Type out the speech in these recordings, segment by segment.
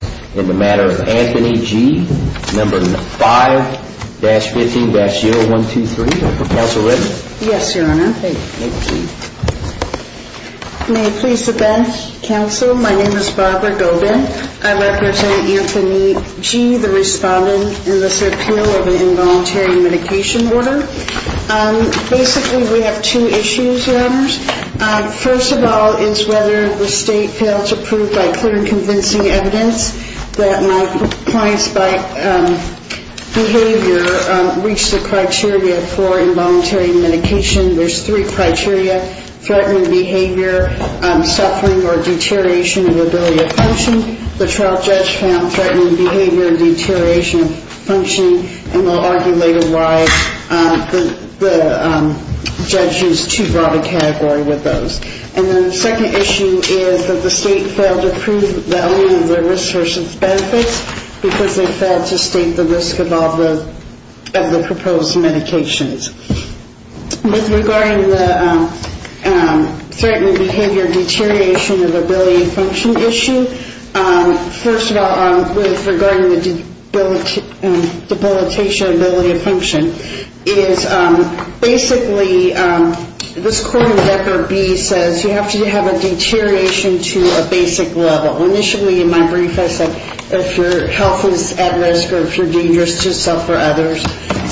No. 5-15-0123. Counsel Reza? Yes, Your Honor. Thank you. May I please sit down, Counsel? My name is Barbara Gobin. I represent Anthony G., the respondent in this appeal of an involuntary medication order. Basically, we have two issues, Your Honors. First of all is whether the state failed to prove by clear and convincing evidence that my client's behavior reached the criteria for involuntary medication. There's three criteria, threatening behavior, suffering, or deterioration of ability to function. The trial judge found threatening behavior and deterioration of functioning, and we'll argue later why the judge used too broad a category with those. And then the second issue is that the state failed to prove the value of the risk versus benefits because they failed to state the risk of all the proposed medications. With regard to the threatening behavior deterioration of ability to function issue, first of all, with regard to the debilitation of ability to function, it is basically this court in this case says you have to have a deterioration to a basic level. Initially, in my brief, I said if your health is at risk or if you're dangerous to yourself or others,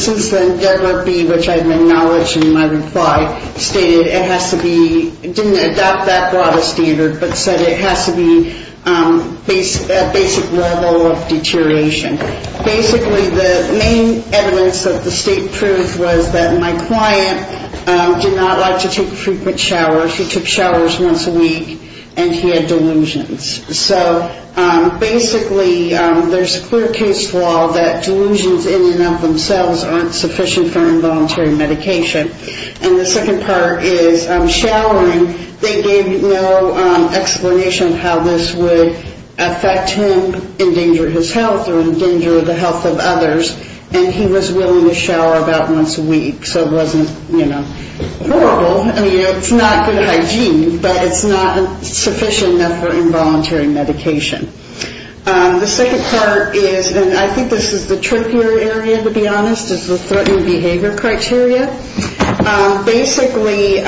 since then, that would be which I've acknowledged in my reply, stated it has to be, didn't adopt that broad a standard, but said it has to be a basic level of deterioration. Basically, the main evidence that the state proved was that my client did not like to take showers once a week, and he had delusions. So basically, there's a clear case for all that delusions in and of themselves aren't sufficient for involuntary medication. And the second part is showering, they gave no explanation how this would affect him, endanger his health, or endanger the health of others, and he was willing to shower about once a week, so it wasn't, you know, horrible. I mean, you know, it's not good hygiene, but it's not sufficient enough for involuntary medication. The second part is, and I think this is the trickier area, to be honest, is the threatened behavior criteria. Basically,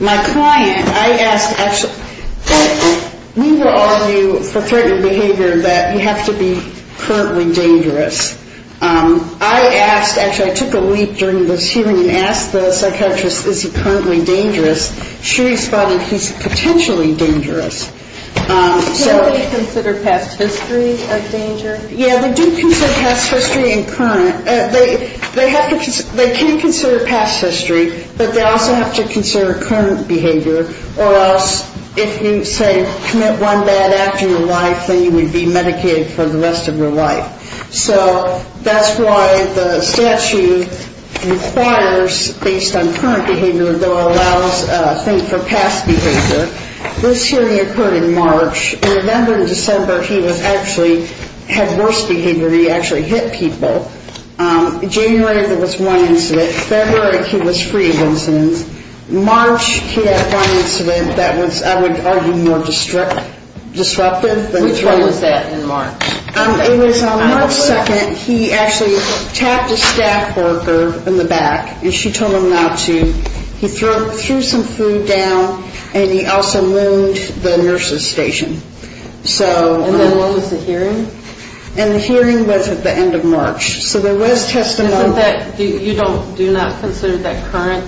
my client, I asked actually, we were all of you for threatened behavior that you have to be currently dangerous. I asked, actually, I took a leap during this hearing and asked the psychiatrist, is he currently dangerous? She responded, he's potentially dangerous. So... Do they consider past history of danger? Yeah, they do consider past history and current. They have to, they can consider past history, but they also have to consider current behavior, or else if you say commit one bad act in your life, then you would be medicated for the rest of your life. So that's why the statute requires, based on current behavior, though it allows, I think, for past behavior. This hearing occurred in March. In November and December, he was actually, had worse behavior. He actually hit people. In January, there was one incident. February, he was free of incidents. March, he had one incident that was, I would argue, more disruptive. Which one was that in March? It was March 2nd. He actually tapped a staff worker in the back, and she told him not to. He threw some food down, and he also wound the nurse's station. So... And then what was the hearing? And the hearing was at the end of March. So there was testimony... Isn't that, you don't, do not consider that current?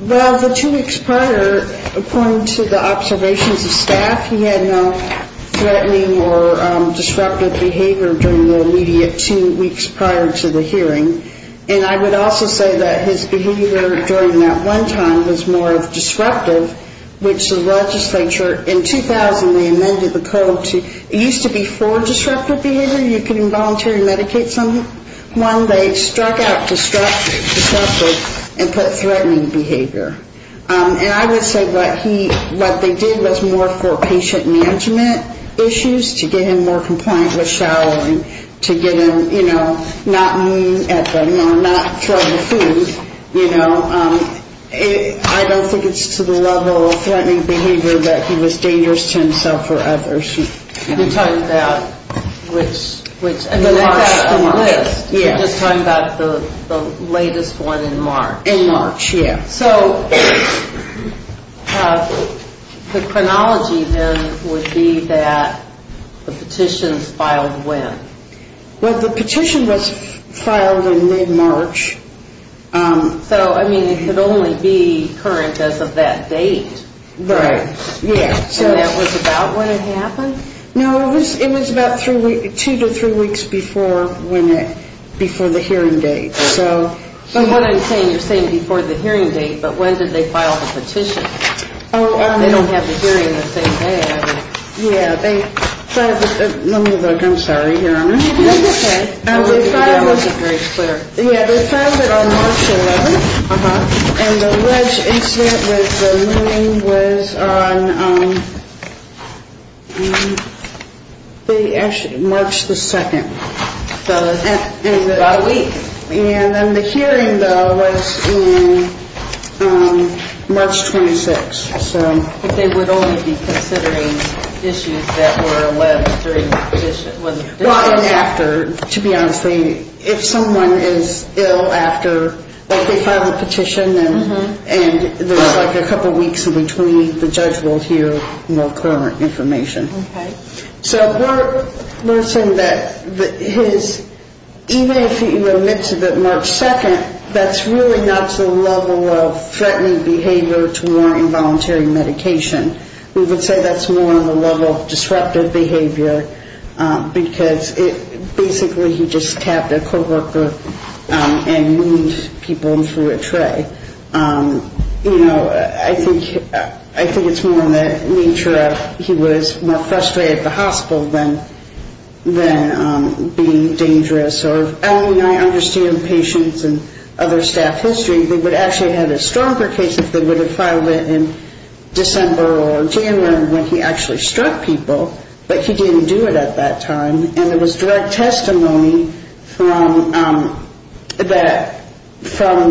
Well, the two weeks prior, according to the observations of staff, he had no threatening or disruptive behavior during the immediate two weeks prior to the hearing. And I would also say that his behavior during that one time was more disruptive, which the legislature, in 2000, they amended the code to, it used to be for disruptive behavior. You could involuntary medicate someone. They struck out disruptive and put threatening behavior. And I would say what he, what they did was more for patient management issues to get him more compliant with showering, to get him, you know, not mean at them or not throw the food, you know. I don't think it's to the level of threatening behavior that he was dangerous to himself or others. You're talking about which... You're just talking about the latest one in March. In March, yeah. So the chronology then would be that the petitions filed when? Well, the petition was filed in mid-March. So, I mean, it could only be current as of that date, right? Right, yeah. And that was about when it happened? No, it was about two to three weeks before when it, before the hearing date. So what I'm saying, you're saying before the hearing date, but when did they file the petition? They don't have the hearing the same day, I mean. Yeah, they filed it, let me look, I'm sorry. Here, let me see. That's okay. That wasn't very clear. Yeah, they filed it on March 11th. Uh-huh. And the wedge incident with the moon was on, they actually, March the 2nd. So it was about a week. And then the hearing, though, was in March 26th, so. But they would only be considering issues that were alleged during the petition, when the petition was? Well, and after, to be honest with you. If someone is ill after they file a petition, and there's like a couple weeks in between, the judge will hear more current information. Okay. So we're saying that his, even if he admits it March 2nd, that's really not the level of threatening behavior to warrant involuntary medication. We would say that's more of a level of disruptive behavior, because basically he just tapped a co-worker and wound people and threw a tray. You know, I think it's more in the nature of he was more frustrated at the hospital than being dangerous. And I understand patients and other staff history, they would actually have had a stronger case if they would have filed it in December or January when he actually struck people. But he didn't do it at that time. And there was direct testimony from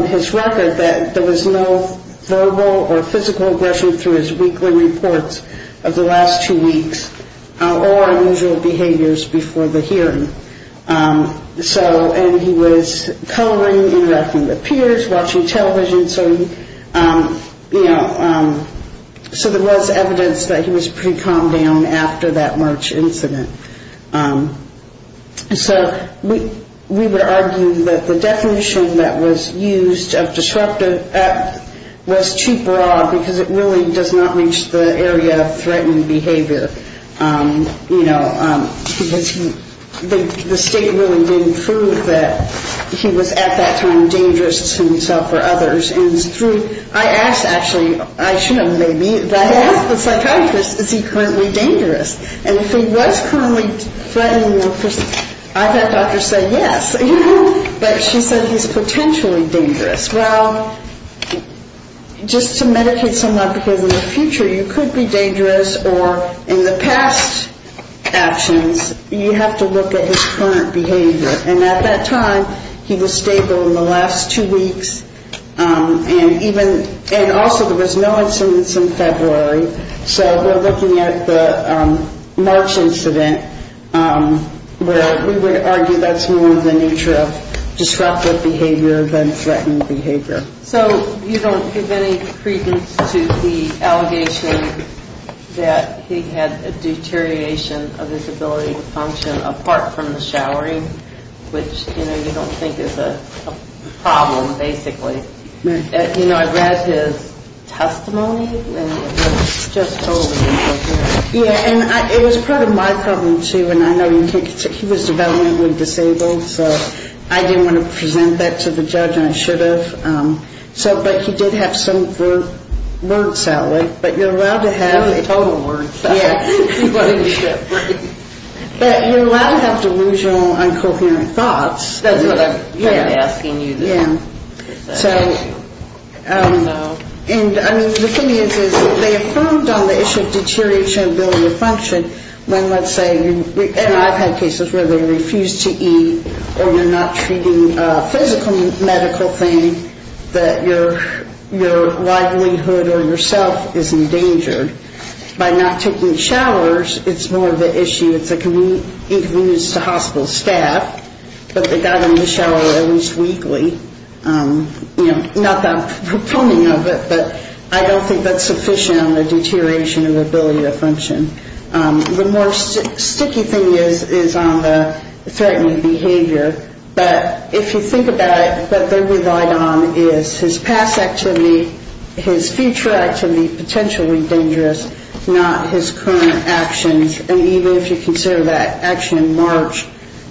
his record that there was no verbal or physical aggression through his weekly reports of the last two weeks or unusual behaviors before the hearing. And he was coloring, interacting with peers, watching television, you know, so there was evidence that he was pretty calmed down after that March incident. So we would argue that the definition that was used of disruptive was too broad, because it really does not reach the area of threatening behavior, you know, because the state really didn't prove that he was at that time dangerous to himself or others. And it's true, I asked actually, I should have maybe, I asked the psychiatrist, is he currently dangerous? And if he was currently threatening the person, I thought the doctor said yes. But she said he's potentially dangerous. Well, just to medicate someone, because in the future you could be dangerous or in the past actions you have to look at his current behavior. And at that time he was stable in the last two weeks, and even, and also there was no incidents in February. So we're looking at the March incident where we would argue that's more of the nature of disruptive behavior than threatening behavior. So you don't give any credence to the allegation that he had a deterioration of his ability to function apart from the showering, which, you know, you don't think is a problem, basically. You know, I read his testimony, and it was just totally inappropriate. Yeah, and it was part of my problem, too, and I know he was developmentally disabled, so I didn't want to present that to the judge, and I should have. So, but he did have some words out there, but you're allowed to have it. Total words. Yeah. But you're allowed to have delusional, incoherent thoughts. That's what I'm kind of asking you. Yeah. So, and, I mean, the thing is, is they affirmed on the issue of deterioration of ability to function when, let's say, and I've had cases where they refuse to eat or you're not treating a physical medical thing that your livelihood or yourself is endangered by not taking showers, it's more of an issue, it's an inconvenience to hospital staff, but they got him to shower at least weekly. You know, not that I'm proponing of it, but I don't think that's sufficient on the deterioration of ability to function. The more sticky thing is on the threatening behavior, but if you think about it, what they relied on is his past activity, his future activity, potentially dangerous, not his current actions, and even if you consider that action in March,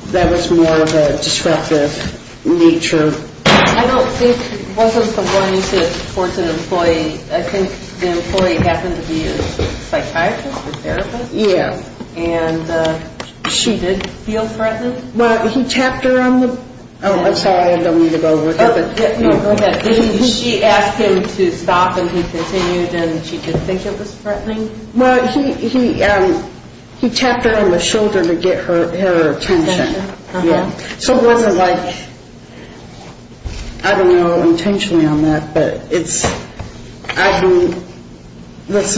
that was more of a disruptive nature. I don't think it wasn't the one to force an employee. I think the employee happened to be a psychiatrist or therapist. Yeah. And she did feel threatened. Well, he tapped her on the, oh, I'm sorry, I don't mean to go over it. No, go ahead. She asked him to stop and he continued and she didn't think it was threatening? Well, he tapped her on the shoulder to get her attention. Uh-huh. So it wasn't like, I don't know intentionally on that, but it's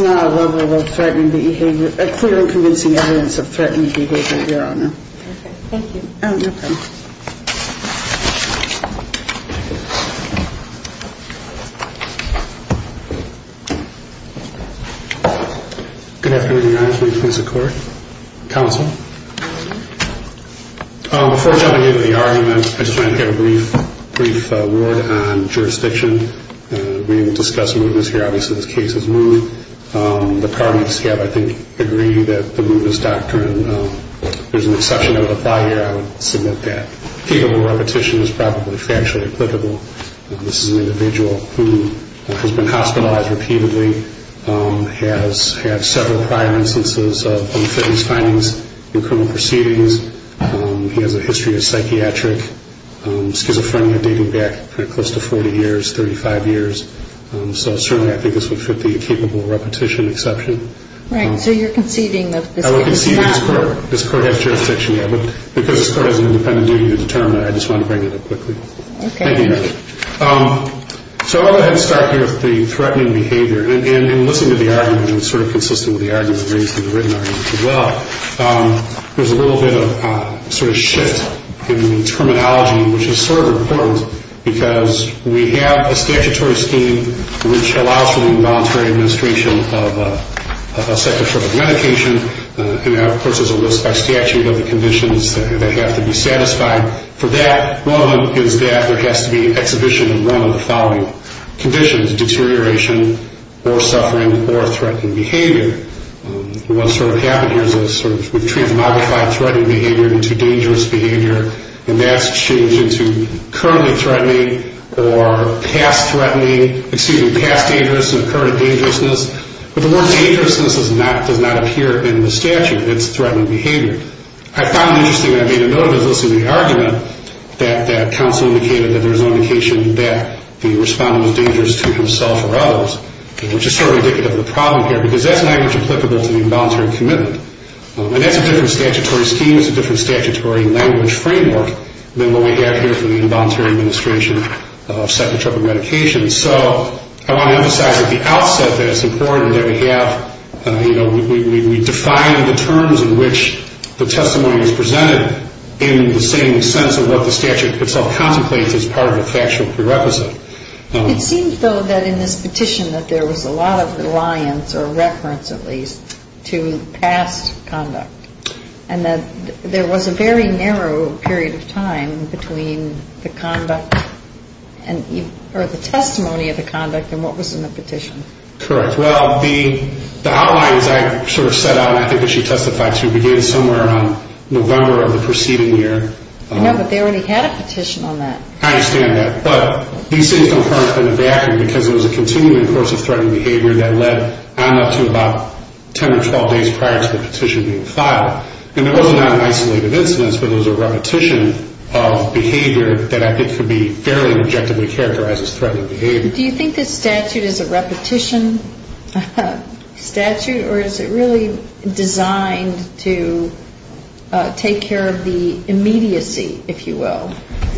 not a level of threatening behavior, a clear and convincing evidence of threatening behavior, Your Honor. Okay, thank you. Okay. Thank you. Good afternoon, Your Honor. Please place the court, counsel. Before jumping into the argument, I just wanted to give a brief word on jurisdiction. We discussed movements here. Obviously, this case is moved. The pardoning staff, I think, agree that the movements doctrine, there's an exception that would apply here. I would submit that. Capable repetition is probably factually applicable. This is an individual who has been hospitalized repeatedly, has had several prior instances of unfitness findings in criminal proceedings. He has a history of psychiatric schizophrenia dating back close to 40 years, 35 years. So certainly I think this would fit the capable repetition exception. Right. So you're conceding that this case is not? I would concede that this court has jurisdiction, yeah. But because this court has an independent jury to determine, I just wanted to bring that up quickly. Okay. Thank you, Your Honor. So I'm going to start here with the threatening behavior. And in listening to the argument, and sort of consistent with the argument raised in the written argument as well, there's a little bit of sort of shift in the terminology, which is sort of important, because we have a statutory scheme which allows for the involuntary administration of a psychotropic medication. And, of course, there's a list by statute of the conditions that have to be satisfied for that. One of them is that there has to be exhibition and run of the following conditions, deterioration or suffering or threatening behavior. And what's sort of happened here is we've transmogrified threatening behavior into dangerous behavior, and that's changed into currently threatening or past threatening, excuse me, past dangerous and current dangerousness. But the word dangerousness does not appear in the statute. It's threatening behavior. I found it interesting when I made a note of this in the argument that counsel indicated that there was no indication that the respondent was dangerous to himself or others, which is sort of indicative of the problem here, because that's language applicable to the involuntary commitment. And that's a different statutory scheme. It's a different statutory language framework than what we have here for the involuntary administration of psychotropic medications. And so I want to emphasize at the outset that it's important that we have, you know, we define the terms in which the testimony is presented in the same sense of what the statute itself contemplates as part of a factual prerequisite. It seems, though, that in this petition that there was a lot of reliance or reference at least to past conduct and that there was a very narrow period of time between the conduct or the testimony of the conduct and what was in the petition. Correct. Well, the outlines I sort of set out, I think that she testified to, began somewhere around November of the preceding year. No, but they already had a petition on that. I understand that. But these things don't currently have been adapted because there was a continuing course of threatening behavior that led on up to about 10 or 12 days prior to the petition being filed. And it was not an isolated incidence, but it was a repetition of behavior that I think could be fairly objectively characterized as threatening behavior. Do you think this statute is a repetition statute or is it really designed to take care of the immediacy, if you will?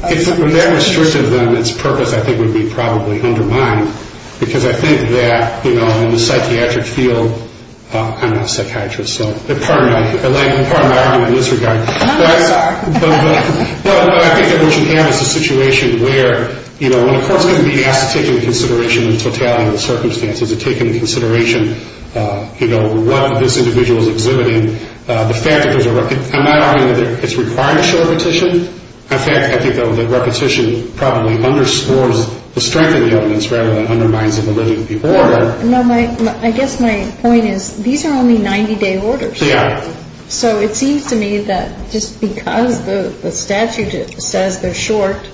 If that restricted them, its purpose, I think, would be probably undermined because I think that in the psychiatric field, I'm not a psychiatrist, so pardon my argument in this regard. I'm sorry. But I think that what you have is a situation where when a court is going to be asked to take into consideration the totality of the circumstances and take into consideration what this individual is exhibiting, the fact that there's a repetition, it's required a short petition. I think the repetition probably underscores the strength of the evidence rather than undermines the validity of the order. I guess my point is these are only 90-day orders. Yeah. So it seems to me that just because the statute says they're short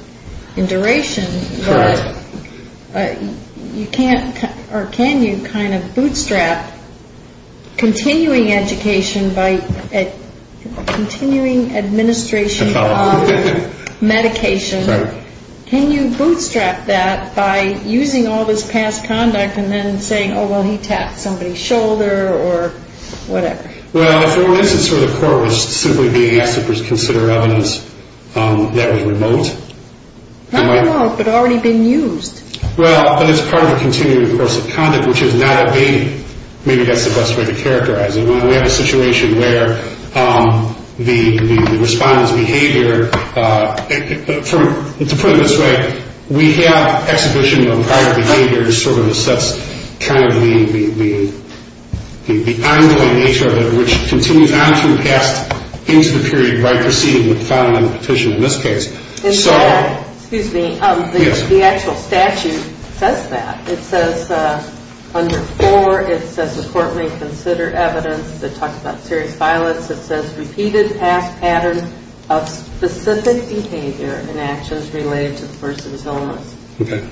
in duration, you can't or can you kind of bootstrap continuing education by continuing administration of medication? Right. Can you bootstrap that by using all this past conduct and then saying, oh, well, he tapped somebody's shoulder or whatever? Well, for instance, where the court was simply being asked to consider evidence that was remote. Not remote, but already been used. Well, but it's part of a continuing course of conduct, which is not abating. Maybe that's the best way to characterize it. We have a situation where the respondent's behavior, to put it this way, we have exhibition of prior behaviors sort of as such kind of the ongoing nature of it, which continues on through the past into the period right preceding the filing of the petition in this case. Excuse me. Yes. The actual statute says that. It says under 4, it says the court may consider evidence that talks about serious violence. It says repeated past patterns of specific behavior and actions related to the person's illness. Okay.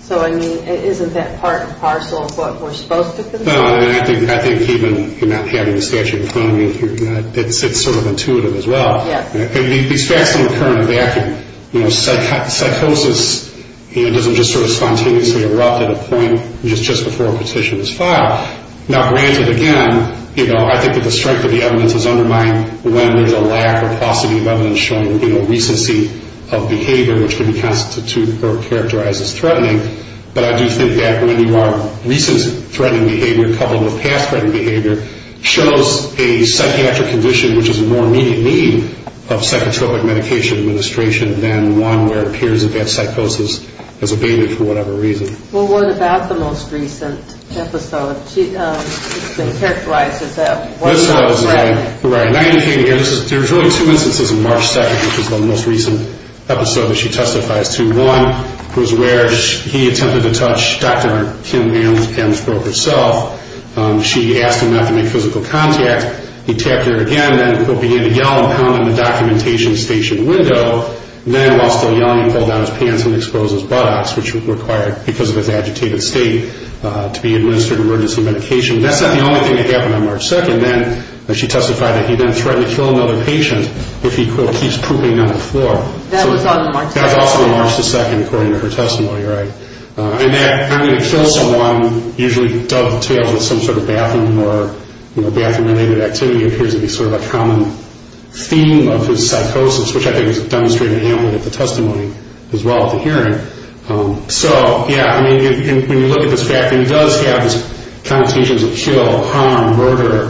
So, I mean, isn't that part and parcel of what we're supposed to consider? No, I think even having the statute in front of you, it's sort of intuitive as well. Yeah. I mean, these facts don't occur in a vacuum. You know, psychosis doesn't just sort of spontaneously erupt at a point just before a petition is filed. Now, granted, again, you know, I think that the strength of the evidence is undermined when there's a lack or paucity of evidence showing, you know, recency of behavior, which can be constituted or characterized as threatening. But I do think that when you are recent threatening behavior coupled with past threatening behavior, shows a psychiatric condition which is a more immediate need of psychotropic medication administration than one where it appears that that psychosis has abated for whatever reason. Well, what about the most recent episode? It's been characterized as that. Right. There's really two instances in March 2nd, which is the most recent episode that she testifies to. One was where he attempted to touch Dr. Kim Amsbrough herself. She asked him not to make physical contact. He tapped her again. Then he began to yell and pound on the documentation station window. Then, while still yelling, he pulled down his pants and exposed his buttocks, which required, because of his agitated state, to be administered emergency medication. That's not the only thing that happened on March 2nd. Then she testified that he then threatened to kill another patient if he keeps pooping on the floor. That was on March 2nd. That was also on March 2nd, according to her testimony, right? And that I'm going to kill someone usually dovetails with some sort of bathroom or bathroom-related activity appears to be sort of a common theme of his psychosis, which I think is demonstrated amply in the testimony as well at the hearing. So, yeah, I mean, when you look at this fact, he does have these connotations of kill, harm, murder.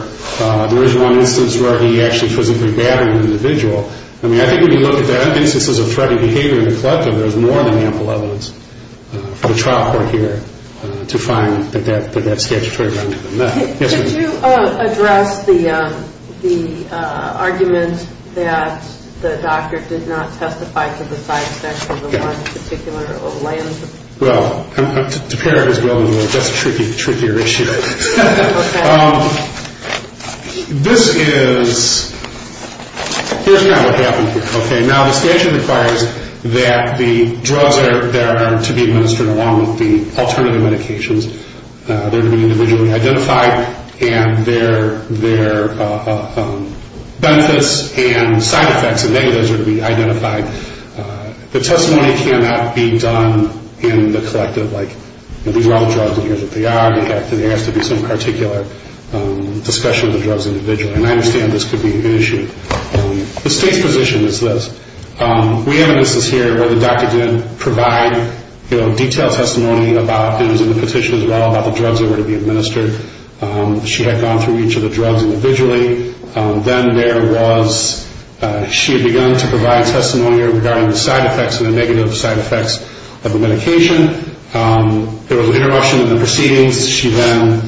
There is one instance where he actually physically battered an individual. I mean, I think when you look at the instances of threatening behavior in the collective, there's more than ample evidence for the trial court here to find that that's statutory. Yes, ma'am? Could you address the argument that the doctor did not testify to the side effects of the one particular lens? Well, to pair it as well, that's a trickier issue. Okay. This is, here's kind of what happened here. Okay, now the statute requires that the drugs that are to be administered, along with the alternative medications, they're to be individually identified, and their benefits and side effects and negatives are to be identified. The testimony cannot be done in the collective, like, these are all drugs in here that they are. There has to be some particular discussion of the drugs individually, and I understand this could be an issue. The state's position is this. We have an instance here where the doctor didn't provide, you know, detailed testimony about, it was in the petition as well, about the drugs that were to be administered. She had gone through each of the drugs individually. Then there was, she had begun to provide testimony regarding the side effects and the negative side effects of the medication. There was an interruption in the proceedings. She then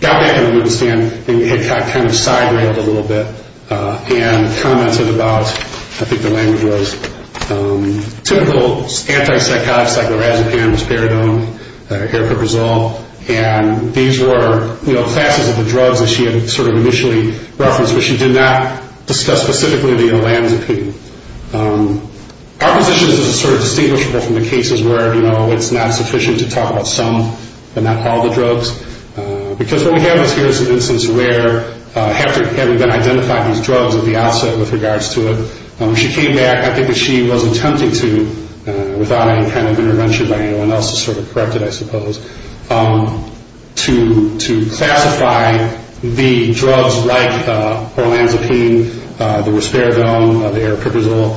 got back into the stand, and we had kind of side railed a little bit, and commented about, I think the language was, typical anti-psychotic, cyclorazepine, risperidone, aripiprazole, and these were, you know, classes of the drugs that she had sort of initially referenced, but she did not discuss specifically the olanzapine. Our position is it's sort of distinguishable from the cases where, you know, it's not sufficient to talk about some but not all the drugs, because what we have here is an instance where, having identified these drugs at the outset with regards to it, she came back, I think that she was attempting to, without any kind of intervention by anyone else to sort of correct it, I suppose, to classify the drugs like olanzapine, the risperidone, the aripiprazole,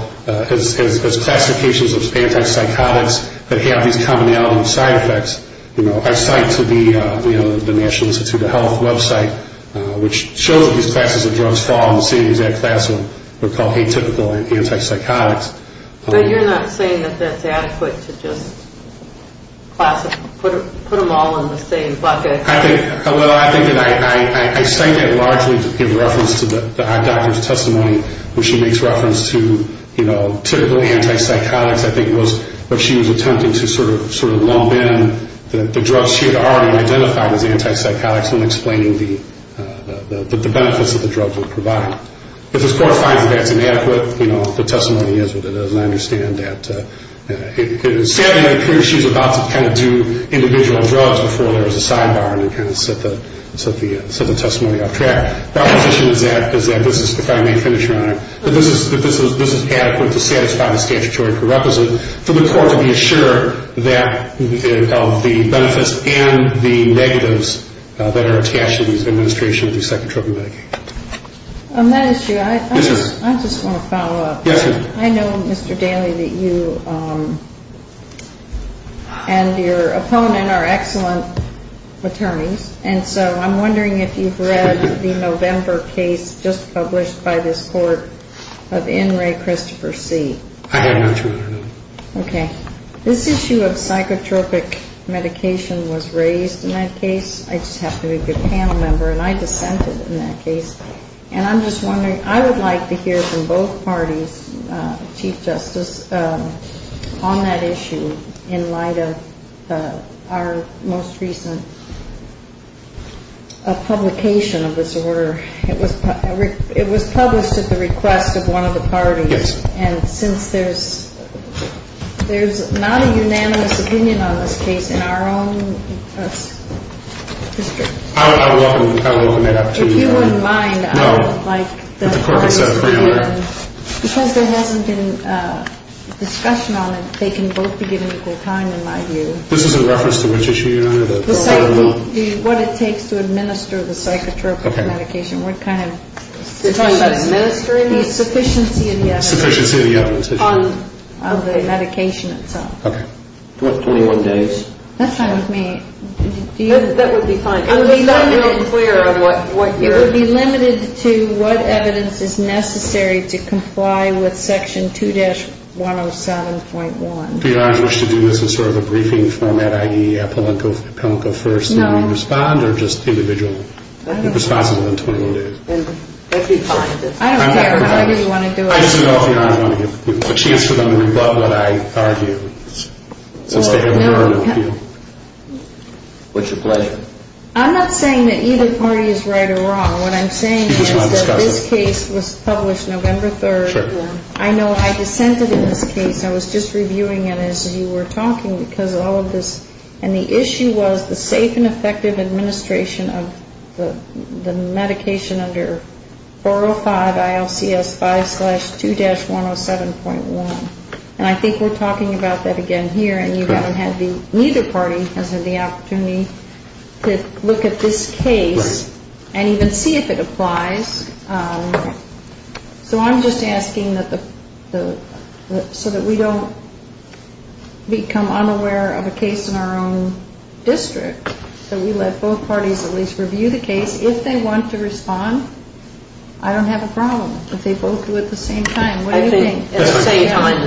as classifications of anti-psychotics that have these commonality side effects. You know, I cite to the National Institute of Health website, which shows that these classes of drugs fall in the same exact classroom, they're called atypical anti-psychotics. But you're not saying that that's adequate to just classify, put them all in the same bucket? I think that I cite that largely to give reference to the eye doctor's testimony, when she makes reference to, you know, typical anti-psychotics, I think it was, where she was attempting to sort of lump in the drugs she had already identified as anti-psychotics and explaining the benefits that the drugs would provide. If this Court finds that that's inadequate, you know, the testimony is what it is, and I understand that it is sad to hear she was about to kind of do individual drugs before there was a sidebar and it kind of set the testimony off track. My position is that this is, if I may finish, Your Honor, that this is adequate to satisfy the statutory prerequisite for the Court to be assured of the benefits and the negatives that are attached to these administration of these psychotropic medications. On that issue, I just want to follow up. Yes, ma'am. I know, Mr. Daley, that you and your opponent are excellent attorneys, and so I'm wondering if you've read the November case just published by this Court of In re Christopher C. I have not, Your Honor. Okay. This issue of psychotropic medication was raised in that case. I just happen to be a good panel member, and I dissented in that case. And I'm just wondering, I would like to hear from both parties, Chief Justice, on that issue in light of our most recent publication of this order. It was published at the request of one of the parties. Yes. And since there's not a unanimous opinion on this case in our own district. I will open it up to you, Your Honor. If you wouldn't mind, I would like the parties to hear. No. If there's a discussion on it, they can both be given equal time, in my view. This is in reference to which issue, Your Honor? What it takes to administer the psychotropic medication. What kind of? You're talking about administering it? The sufficiency of the evidence. Sufficiency of the evidence. Of the medication itself. Okay. What, 21 days? That's not with me. That would be fine. I'm not real clear on what you're. It would be limited to what evidence is necessary to comply with section 2-107.1. Do you, Your Honor, wish to do this in sort of a briefing format, i.e. appellant go first? No. And we respond, or just individual? I don't care. Responsible in 21 days. That would be fine. I don't care. I really want to do it. I just don't, Your Honor, want to give a chance for them to rebut what I argue. Well, no. Since they have heard of you. What's your pleasure? I'm not saying that either party is right or wrong. What I'm saying is that this case was published November 3rd. Sure. I know I dissented in this case. I was just reviewing it as you were talking because of all of this. And the issue was the safe and effective administration of the medication under 405 ILCS 5-2-107.1. And I think we're talking about that again here. And neither party has had the opportunity to look at this case and even see if it applies. So I'm just asking so that we don't become unaware of a case in our own district, that we let both parties at least review the case. If they want to respond, I don't have a problem if they both do at the same time. What do you think? That's fine.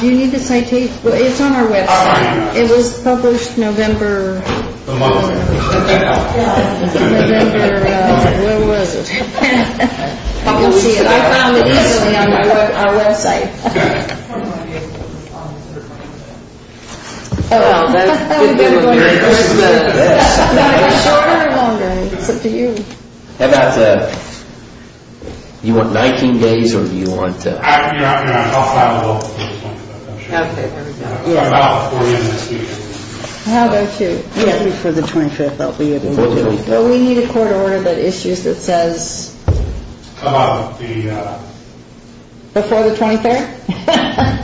Do you need to citate? It's on our website. It was published November. Where was it? You can see it. I found it easily on our website. It's up to you. How about you want 19 days or do you want... I'll file a bill. Okay, there we go. How about before the 25th? Before the 25th. We need a court order that issues that says... How about the... Before the 23rd? Can I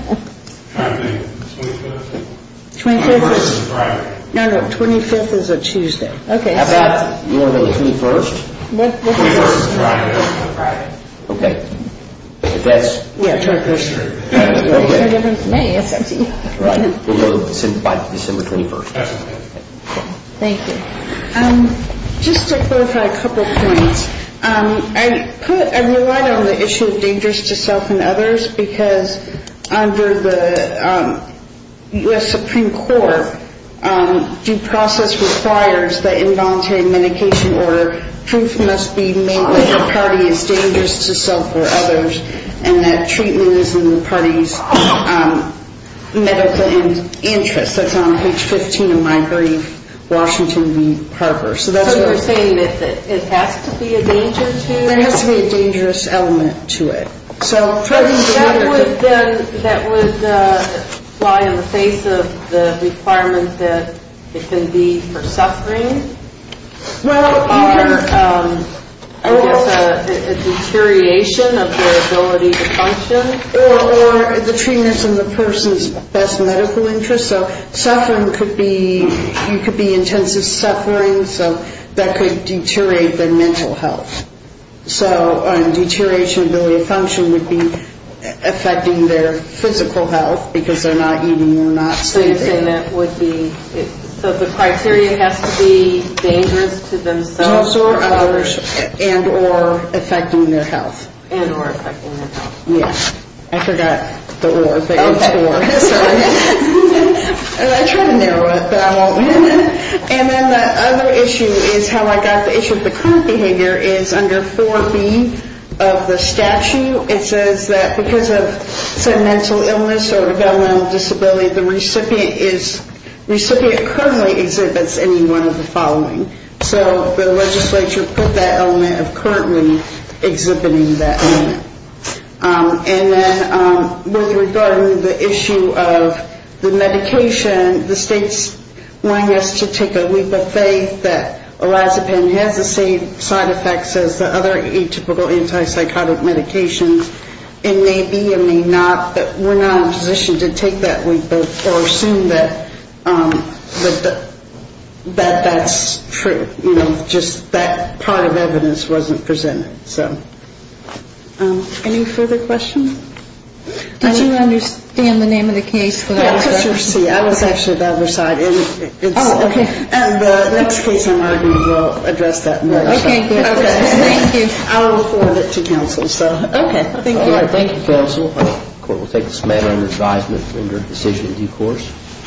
say the 25th? 25th is... No, no, 25th is a Tuesday. Okay. How about you want it on the 21st? 21st is Friday. Okay. If that's... Yeah, it's our district. It makes no difference to me. We'll go by December 21st. Okay. Thank you. Just to clarify a couple points. I relied on the issue of dangerous to self and others because under the U.S. Supreme Court, due process requires that in voluntary medication order, proof must be made that the party is dangerous to self or others and that treatment is in the party's medical interest. That's on page 15 of my brief, Washington v. Harper. So you're saying that it has to be a danger to you? There has to be a dangerous element to it. That would lie in the face of the requirement that it can be for suffering? Or I guess a deterioration of their ability to function? Or the treatment is in the person's best medical interest. So suffering could be intensive suffering, so that could deteriorate their mental health. So deterioration of ability to function would be affecting their physical health because they're not eating or not sleeping. So you're saying that would be... So the criteria has to be dangerous to themselves or others. And or affecting their health. And or affecting their health. Yeah. I forgot the or if it was for. Okay. Sorry. I try to narrow it, but I won't. And then the other issue is how I got the issue of the current behavior is under 4B of the statute. It says that because of sentimental illness or developmental disability, the recipient currently exhibits any one of the following. So the legislature put that element of currently exhibiting that element. And then with regard to the issue of the medication, I believe that orazapine has the same side effects as the other atypical antipsychotic medications. It may be and may not, but we're not in a position to take that or assume that that's true. You know, just that part of evidence wasn't presented. So. Any further questions? Did you understand the name of the case? I was actually the other side. And the next case I'm arguing will address that more. Okay. Thank you. I will forward it to counsel. Okay. Thank you. All right. Thank you, counsel. The court will take this matter under advisement under decision in due course.